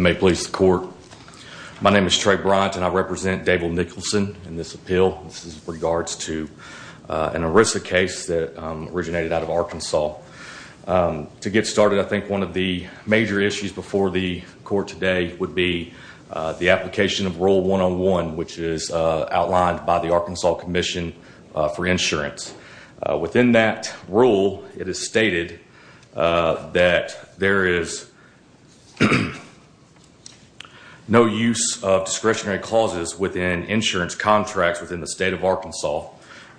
May it please the court. My name is Trey Bryant and I represent Dable Nicholson in this appeal. This is in regards to an ERISA case that originated out of Arkansas. To get started, I think one of the major issues before the court today would be the application of Rule 101, which is outlined by the Arkansas Commission for Insurance. Within that rule, it is stated that there is no use of discretionary clauses within insurance contracts within the state of Arkansas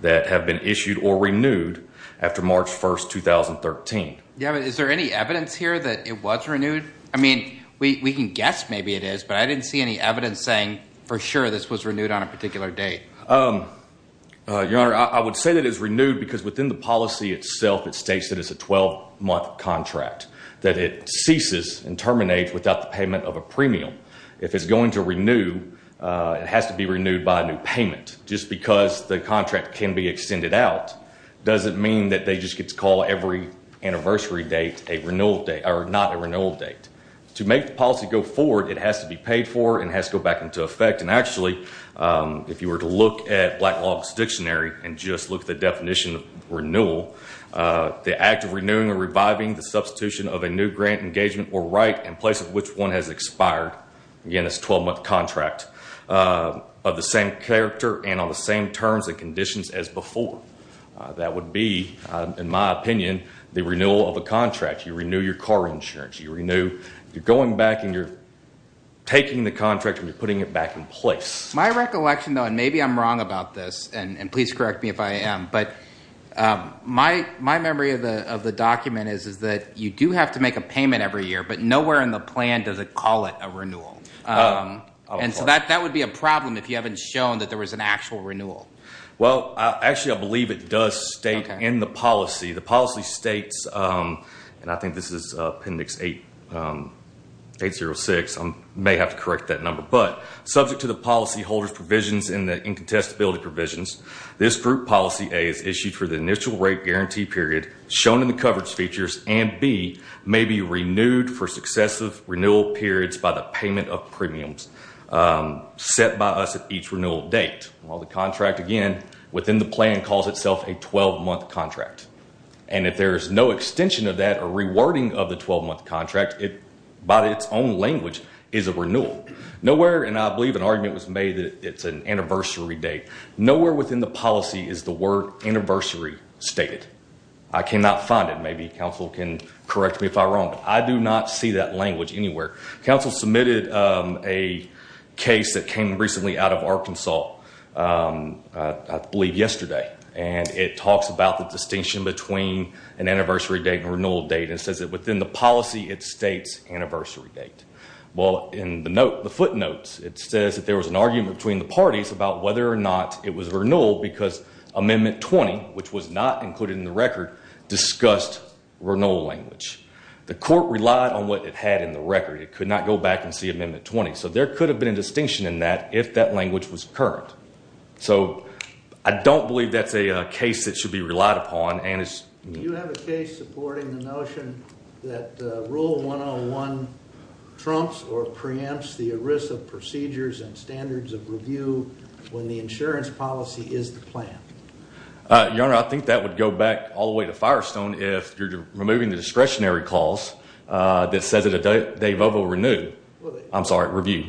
that have been issued or renewed after March 1st, 2013. Yeah, but is there any evidence here that it was renewed? I mean, we can guess maybe it is, but I didn't see any evidence saying for sure this was renewed on a particular date. Your Honor, I would say that it is renewed because within the policy itself, it states that it's a 12-month contract, that it ceases and terminates without the payment of a premium. If it's going to renew, it has to be renewed by a new payment. Just because the contract can be extended out doesn't mean that they just get to call every anniversary date a renewal date, or not a renewal date. To make the policy go forward, it has to be paid for and has to go back into effect. Actually, if you were to look at Blacklog's dictionary and just look at the definition of renewal, the act of renewing or reviving the substitution of a new grant engagement or right in place of which one has expired, again, it's a 12-month contract, of the same character and on the same terms and conditions as before. That would be, in my opinion, the renewal of a contract. You renew your car insurance. You're going back and you're taking the contract and you're putting it back in place. My recollection, though, and maybe I'm wrong about this, and please correct me if I am, but my memory of the document is that you do have to make a payment every year, but nowhere in the plan does it call it a renewal. And so that would be a problem if you haven't shown that there was an actual renewal. Well, actually, I believe it does state in the policy. The policy states, and I think this is Appendix 806, I may have to correct that number, but subject to the policyholder's provisions and the incontestability provisions, this Group Policy A is issued for the initial rate guarantee period shown in the coverage features, and B, may be renewed for successive renewal periods by the payment of premiums set by us at each renewal date. Well, the contract, again, within the plan calls itself a 12-month contract. And if there is no extension of that or rewording of the 12-month contract, by its own language, is a renewal. Nowhere, and I believe an argument was made that it's an anniversary date, nowhere within the policy is the word anniversary stated. I cannot find it. Maybe council can correct me if I'm wrong, but I do not see that language anywhere. Council submitted a case that came recently out of Arkansas, I believe yesterday, and it talks about the distinction between an anniversary date and a renewal date and says that within the policy it states anniversary date. Well, in the footnotes it says that there was an argument between the parties about whether or not it was a renewal because Amendment 20, which was not included in the record, discussed renewal language. The court relied on what it had in the record. It could not go back and see Amendment 20. So there could have been a distinction in that if that language was current. So I don't believe that's a case that should be relied upon. Do you have a case supporting the notion that Rule 101 trumps or preempts the ERISA procedures and standards of review when the insurance policy is the plan? Your Honor, I think that would go back all the way to Firestone if you're removing the discretionary clause that says that a day vote will renew. I'm sorry, review.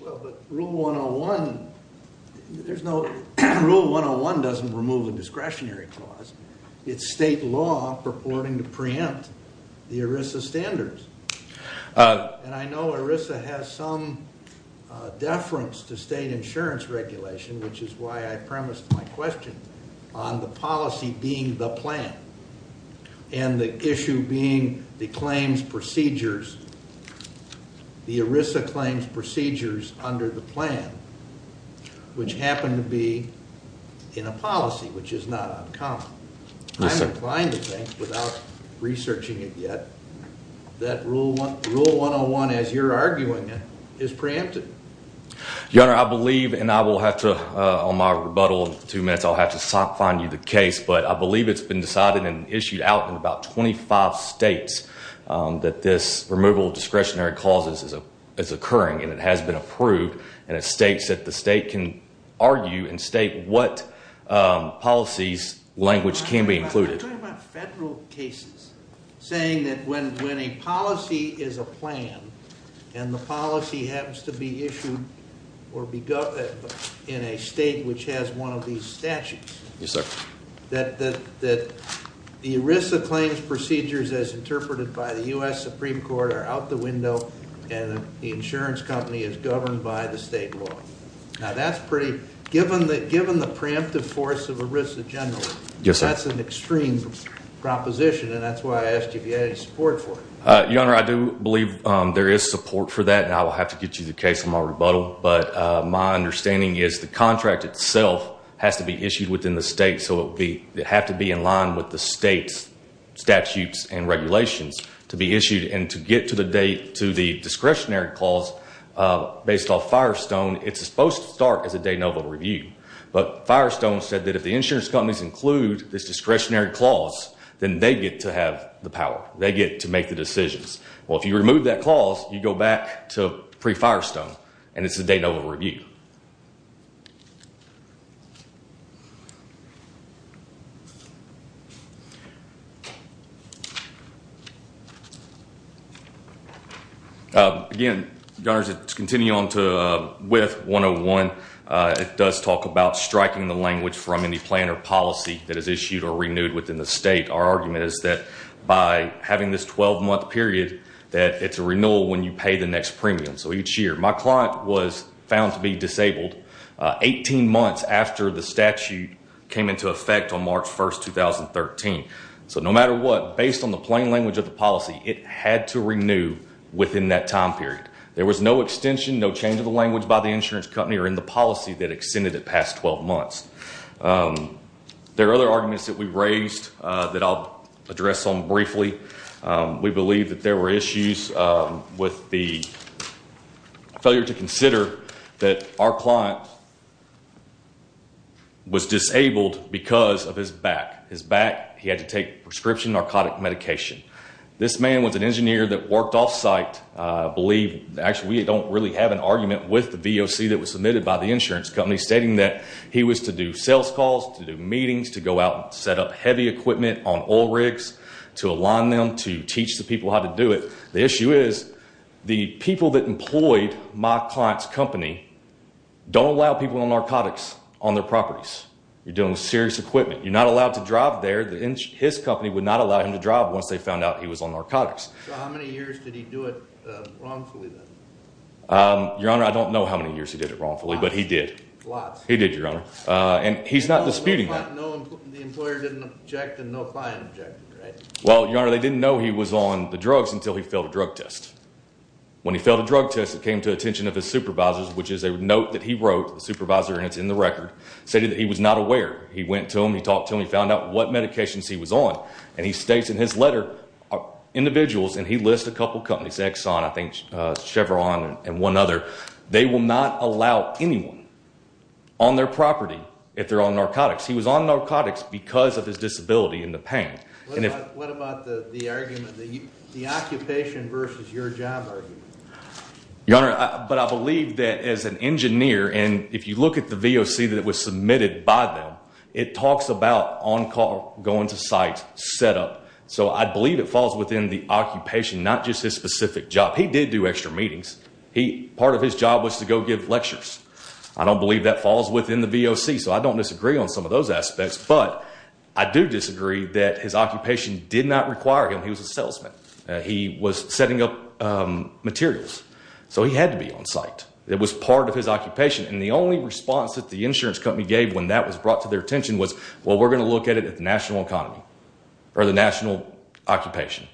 Well, but Rule 101 doesn't remove a discretionary clause. It's state law purporting to preempt the ERISA standards. And I know ERISA has some deference to state insurance regulation, which is why I premised my question on the policy being the plan and the issue being the claims procedures. The ERISA claims procedures under the plan, which happen to be in a policy, which is not uncommon. I'm inclined to think, without researching it yet, that Rule 101, as you're arguing it, is preempted. Your Honor, I believe, and I will have to, on my rebuttal in two minutes, I'll have to find you the case, but I believe it's been decided and issued out in about 25 states that this removal of discretionary clauses is occurring and it has been approved and it states that the state can argue and state what policies language can be included. I'm talking about federal cases, saying that when a policy is a plan and the policy happens to be issued in a state which has one of these statutes, that the ERISA claims procedures as interpreted by the U.S. Supreme Court are out the window and the insurance company is governed by the state law. Now that's pretty, given the preemptive force of ERISA generally, that's an extreme proposition and that's why I asked you if you had any support for it. Your Honor, I do believe there is support for that and I will have to get you the case on my rebuttal, but my understanding is the contract itself has to be issued within the state, so it would have to be in line with the state's statutes and regulations to be issued and to get to the discretionary clause based off Firestone, it's supposed to start as a de novo review, but Firestone said that if the insurance companies include this discretionary clause, then they get to have the power. They get to make the decisions. Well, if you remove that clause, you go back to pre-Firestone and it's a de novo review. Again, Your Honor, to continue on with 101, it does talk about striking the language from any plan or policy that is issued or renewed within the state. Our argument is that by having this 12-month period, that it's a renewal when you pay the next premium. So each year, my client was found to be disabled 18 months after the statute came into effect on March 1, 2013. So no matter what, based on the plain language of the policy, it had to renew within that time period. There was no extension, no change of the language by the insurance company or in the policy that extended it past 12 months. There are other arguments that we've raised that I'll address on briefly. We believe that there were issues with the failure to consider that our client was disabled because of his back. His back, he had to take prescription narcotic medication. This man was an engineer that worked off-site. I believe, actually, we don't really have an argument with the VOC that was submitted by the insurance company, stating that he was to do sales calls, to do meetings, to go out and set up heavy equipment on oil rigs, to align them, to teach the people how to do it. The issue is the people that employed my client's company don't allow people on narcotics on their properties. You're doing serious equipment. You're not allowed to drive there. His company would not allow him to drive once they found out he was on narcotics. So how many years did he do it wrongfully, then? Your Honor, I don't know how many years he did it wrongfully, but he did. Lots. He did, Your Honor. And he's not disputing that. The employer didn't object and no client objected, right? Well, Your Honor, they didn't know he was on the drugs until he failed a drug test. When he failed a drug test, it came to the attention of his supervisors, which is a note that he wrote, the supervisor, and it's in the record, stating that he was not aware. He went to him, he talked to him, he found out what medications he was on, and he states in his letter, individuals, and he lists a couple companies, Exxon, I think Chevron, and one other. They will not allow anyone on their property if they're on narcotics. He was on narcotics because of his disability and the pain. What about the argument, the occupation versus your job argument? Your Honor, but I believe that as an engineer, and if you look at the VOC that was submitted by them, it talks about on call, going to site, set up. So I believe it falls within the occupation, not just his specific job. He did do extra meetings. Part of his job was to go give lectures. I don't believe that falls within the VOC, so I don't disagree on some of those aspects, but I do disagree that his occupation did not require him. He was a salesman. He was setting up materials. So he had to be on site. It was part of his occupation, and the only response that the insurance company gave when that was brought to their attention was, well, we're going to look at it at the national economy or the national occupation.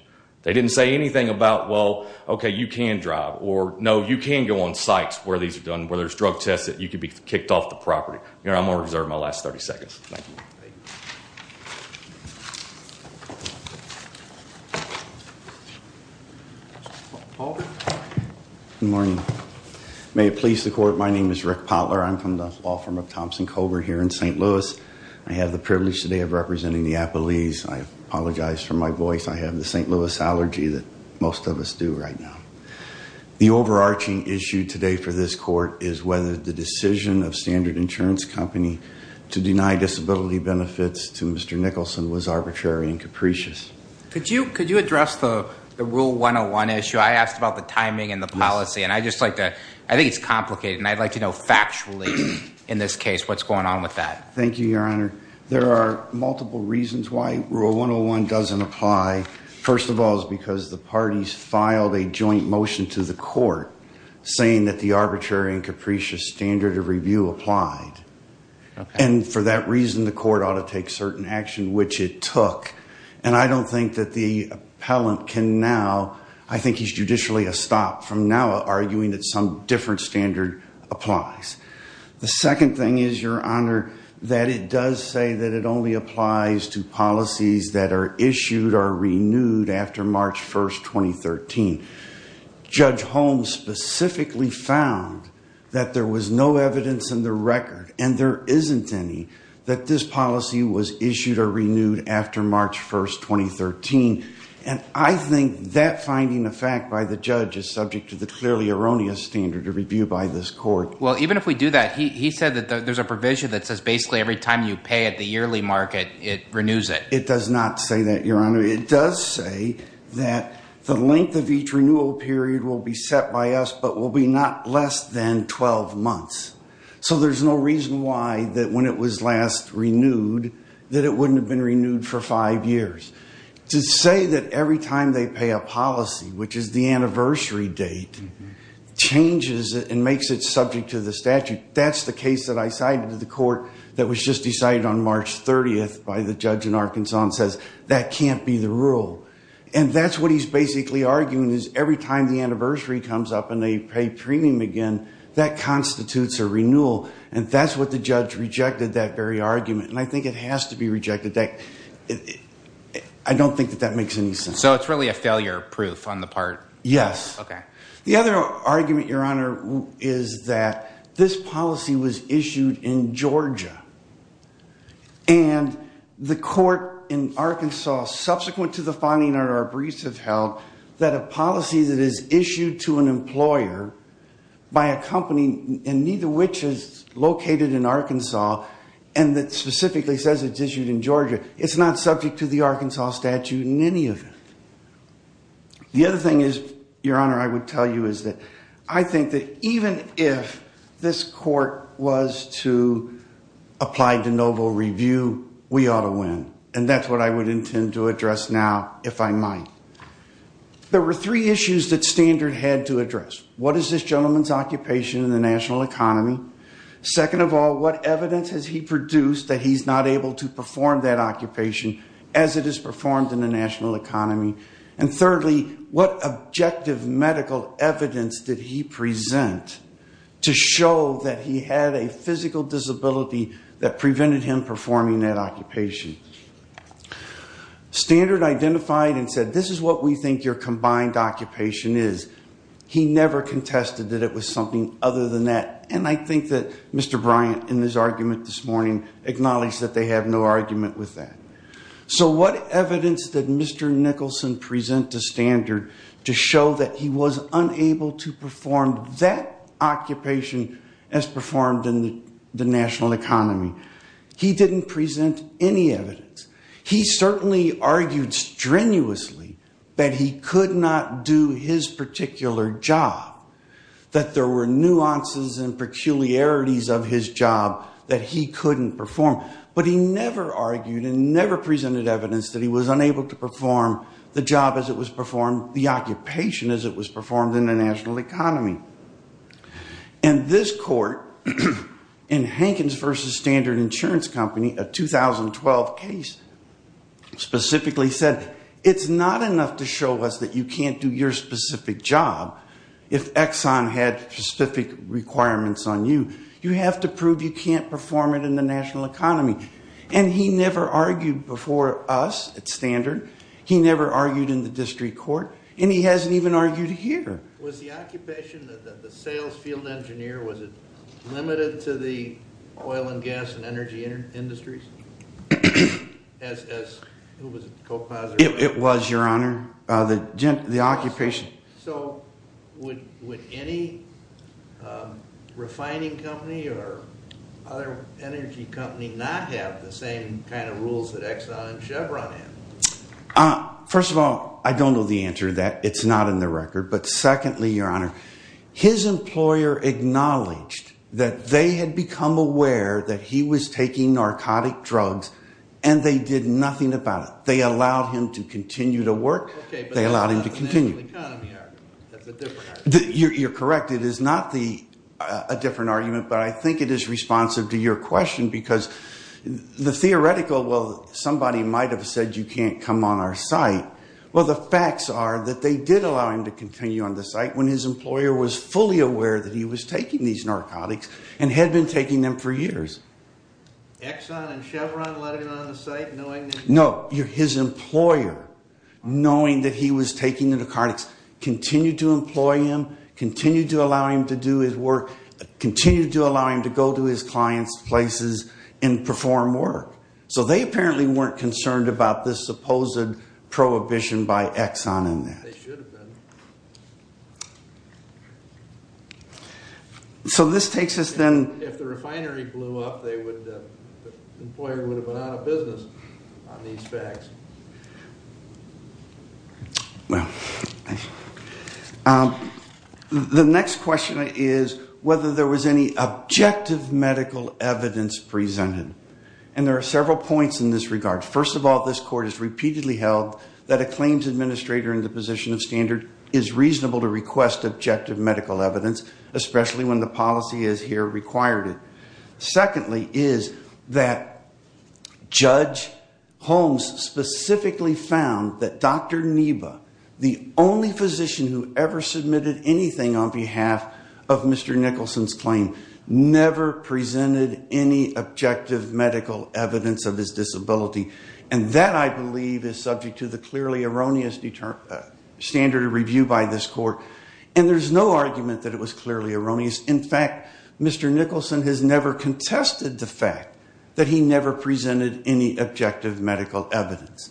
They didn't say anything about, well, okay, you can drive, or no, you can go on sites where these are done, where there's drug tests that you could be kicked off the property. Your Honor, I'm going to reserve my last 30 seconds. Thank you. Thank you. Paul? Good morning. May it please the Court, my name is Rick Potler. I'm from the law firm of Thompson Cobra here in St. Louis. I have the privilege today of representing the Appleys. I apologize for my voice. I have the St. Louis allergy that most of us do right now. The overarching issue today for this Court is whether the decision of Standard Insurance Company to deny disability benefits to Mr. Nicholson was arbitrary and capricious. Could you address the Rule 101 issue? I asked about the timing and the policy, and I just like to, I think it's complicated, and I'd like to know factually in this case what's going on with that. Thank you, Your Honor. There are multiple reasons why Rule 101 doesn't apply. First of all is because the parties filed a joint motion to the Court saying that the arbitrary and capricious standard of review applied. And for that reason, the Court ought to take certain action, which it took. And I don't think that the appellant can now, I think he's judicially a stop from now, arguing that some different standard applies. The second thing is, Your Honor, that it does say that it only applies to policies that are issued or renewed after March 1, 2013. Judge Holmes specifically found that there was no evidence in the record, and there isn't any, that this policy was issued or renewed after March 1, 2013. And I think that finding of fact by the judge is subject to the clearly erroneous standard of review by this Court. Well, even if we do that, he said that there's a provision that says basically every time you pay at the yearly market it renews it. It does not say that, Your Honor. It does say that the length of each renewal period will be set by us, but will be not less than 12 months. So there's no reason why that when it was last renewed that it wouldn't have been renewed for five years. To say that every time they pay a policy, which is the anniversary date, changes it and makes it subject to the statute, that's the case that I cited to the Court that was just decided on March 30th by the judge in Arkansas and says that can't be the rule. And that's what he's basically arguing is every time the anniversary comes up and they pay premium again, that constitutes a renewal. And that's what the judge rejected, that very argument. And I think it has to be rejected. I don't think that that makes any sense. So it's really a failure proof on the part? Yes. Okay. The other argument, Your Honor, is that this policy was issued in Georgia. And the court in Arkansas, subsequent to the finding that our briefs have held, that a policy that is issued to an employer by a company, and neither which is located in Arkansas, and that specifically says it's issued in Georgia, it's not subject to the Arkansas statute in any of it. The other thing is, Your Honor, I would tell you is that I think that even if this court was to apply to noble review, we ought to win. And that's what I would intend to address now, if I might. There were three issues that Standard had to address. What is this gentleman's occupation in the national economy? Second of all, what evidence has he produced that he's not able to perform that occupation as it is performed in the national economy? And thirdly, what objective medical evidence did he present to show that he had a physical disability that prevented him performing that occupation? Standard identified and said, this is what we think your combined occupation is. He never contested that it was something other than that. And I think that Mr. Bryant, in his argument this morning, acknowledged that they have no argument with that. So what evidence did Mr. Nicholson present to Standard to show that he was unable to perform that occupation as performed in the national economy? He didn't present any evidence. He certainly argued strenuously that he could not do his particular job, that there were nuances and peculiarities of his job that he couldn't perform, but he never argued and never presented evidence that he was unable to perform the job as it was performed, the occupation as it was performed in the national economy. And this court, in Hankins v. Standard Insurance Company, a 2012 case, specifically said, it's not enough to show us that you can't do your specific job if Exxon had specific requirements on you. You have to prove you can't perform it in the national economy. And he never argued before us at Standard. He never argued in the district court. And he hasn't even argued here. Was the occupation that the sales field engineer, was it limited to the oil and gas and energy industries? Who was it? It was, Your Honor, the occupation. So would any refining company or other energy company not have the same kind of rules that Exxon and Chevron have? First of all, I don't know the answer to that. It's not in the record. But secondly, Your Honor, his employer acknowledged that they had become aware that he was taking narcotic drugs, and they did nothing about it. They allowed him to continue to work. Okay, but that's not the national economy argument. That's a different argument. You're correct. It is not a different argument, but I think it is responsive to your question because the theoretical, well, somebody might have said you can't come on our site. Well, the facts are that they did allow him to continue on the site when his employer was fully aware that he was taking these narcotics and had been taking them for years. Exxon and Chevron let him on the site knowing that he was taking them? No, his employer, knowing that he was taking the narcotics, continued to employ him, continued to allow him to do his work, continued to allow him to go to his clients' places and perform work. So they apparently weren't concerned about this supposed prohibition by Exxon in that. They should have been. So this takes us then. Well, if the refinery blew up, the employer would have been out of business on these facts. The next question is whether there was any objective medical evidence presented, and there are several points in this regard. First of all, this Court has repeatedly held that a claims administrator in the position of standard is reasonable to request objective medical evidence, especially when the policy is here required it. Secondly is that Judge Holmes specifically found that Dr. Neba, the only physician who ever submitted anything on behalf of Mr. Nicholson's claim, never presented any objective medical evidence of his disability, and that I believe is subject to the clearly erroneous standard of review by this Court. And there's no argument that it was clearly erroneous. In fact, Mr. Nicholson has never contested the fact that he never presented any objective medical evidence.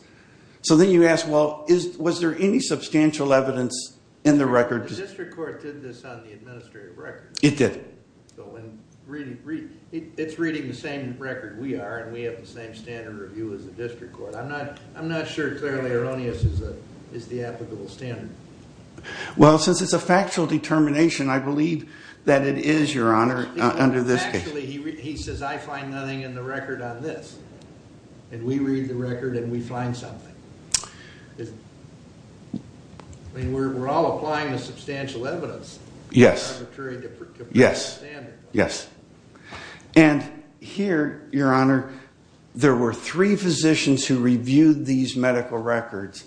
So then you ask, well, was there any substantial evidence in the record? The district court did this on the administrative record. It did. So it's reading the same record we are, and we have the same standard of review as the district court. I'm not sure clearly erroneous is the applicable standard. Well, since it's a factual determination, I believe that it is, Your Honor, under this case. Actually, he says I find nothing in the record on this, and we read the record and we find something. I mean, we're all applying the substantial evidence. Yes, yes, yes. And here, Your Honor, there were three physicians who reviewed these medical records,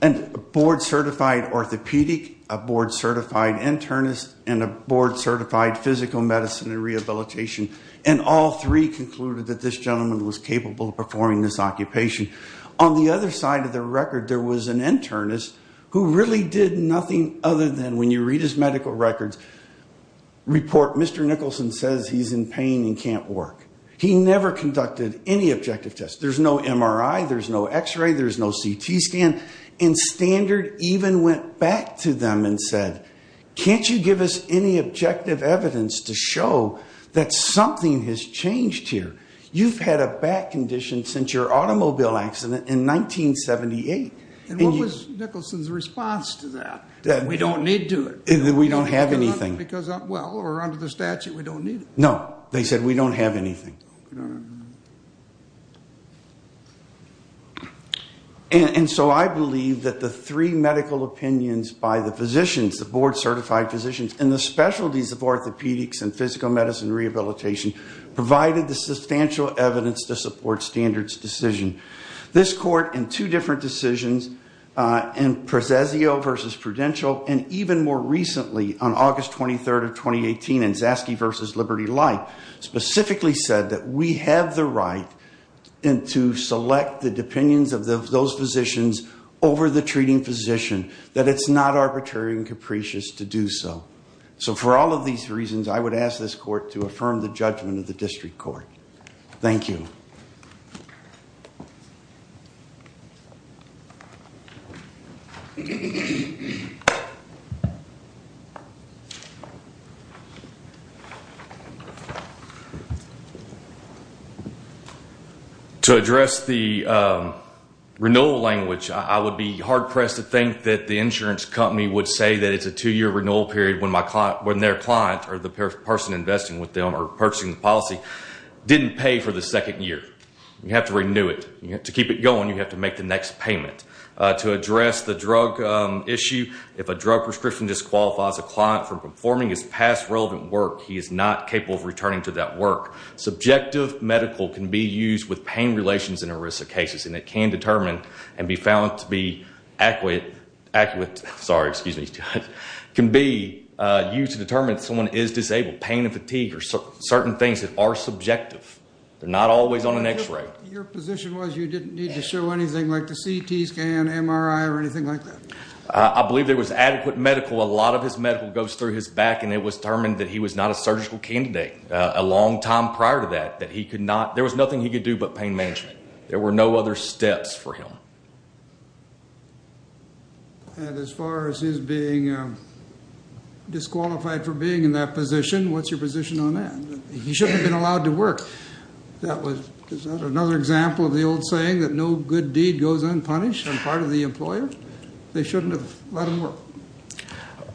a board-certified orthopedic, a board-certified internist, and a board-certified physical medicine and rehabilitation, and all three concluded that this gentleman was capable of performing this occupation. On the other side of the record, there was an internist who really did nothing other than, when you read his medical records, report Mr. Nicholson says he's in pain and can't work. He never conducted any objective tests. There's no MRI. There's no X-ray. There's no CT scan. And Standard even went back to them and said, can't you give us any objective evidence to show that something has changed here? You've had a back condition since your automobile accident in 1978. And what was Nicholson's response to that? We don't need to. We don't have anything. Because, well, under the statute, we don't need it. No. They said, we don't have anything. And so I believe that the three medical opinions by the physicians, the board-certified physicians, and the specialties of orthopedics and physical medicine rehabilitation provided the substantial evidence to support Standard's decision. This court, in two different decisions, in Prozesio v. Prudential, and even more recently on August 23rd of 2018 in Zaske v. Liberty Life, specifically said that we have the right to select the opinions of those physicians over the treating physician, that it's not arbitrary and capricious to do so. So for all of these reasons, I would ask this court to affirm the judgment of the district court. Thank you. Thank you. To address the renewal language, I would be hard-pressed to think that the insurance company would say that it's a two-year renewal period when their client or the person investing with them or purchasing the policy didn't pay for the second year. You have to renew it. To keep it going, you have to make the next payment. To address the drug issue, if a drug prescription disqualifies a client from performing his past relevant work, he is not capable of returning to that work. Subjective medical can be used with pain relations in a risk of cases, and it can determine and be found to be accurate, can be used to determine if someone is disabled. Pain and fatigue are certain things that are subjective. They're not always on an X-ray. Your position was you didn't need to show anything like the CT scan, MRI, or anything like that? I believe there was adequate medical. A lot of his medical goes through his back, and it was determined that he was not a surgical candidate a long time prior to that. There was nothing he could do but pain management. There were no other steps for him. And as far as his being disqualified for being in that position, what's your position on that? He shouldn't have been allowed to work. Is that another example of the old saying that no good deed goes unpunished on part of the employer? They shouldn't have let him work.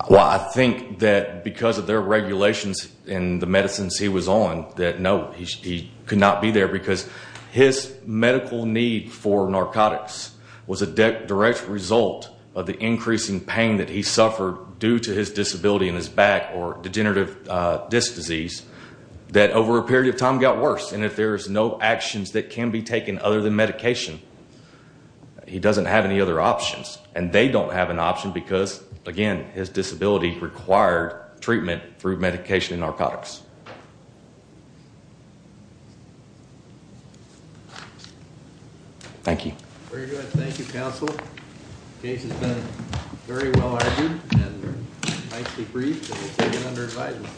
Well, I think that because of their regulations and the medicines he was on, that no, he could not be there because his medical need for narcotics was a direct result of the increasing pain that he suffered due to his disability in his back or degenerative disc disease that over a period of time got worse. And if there's no actions that can be taken other than medication, he doesn't have any other options. And they don't have an option because, again, his disability required treatment through medication and narcotics. Thank you. Very good. Thank you, counsel. The case has been very well argued and nicely briefed and taken under advisement.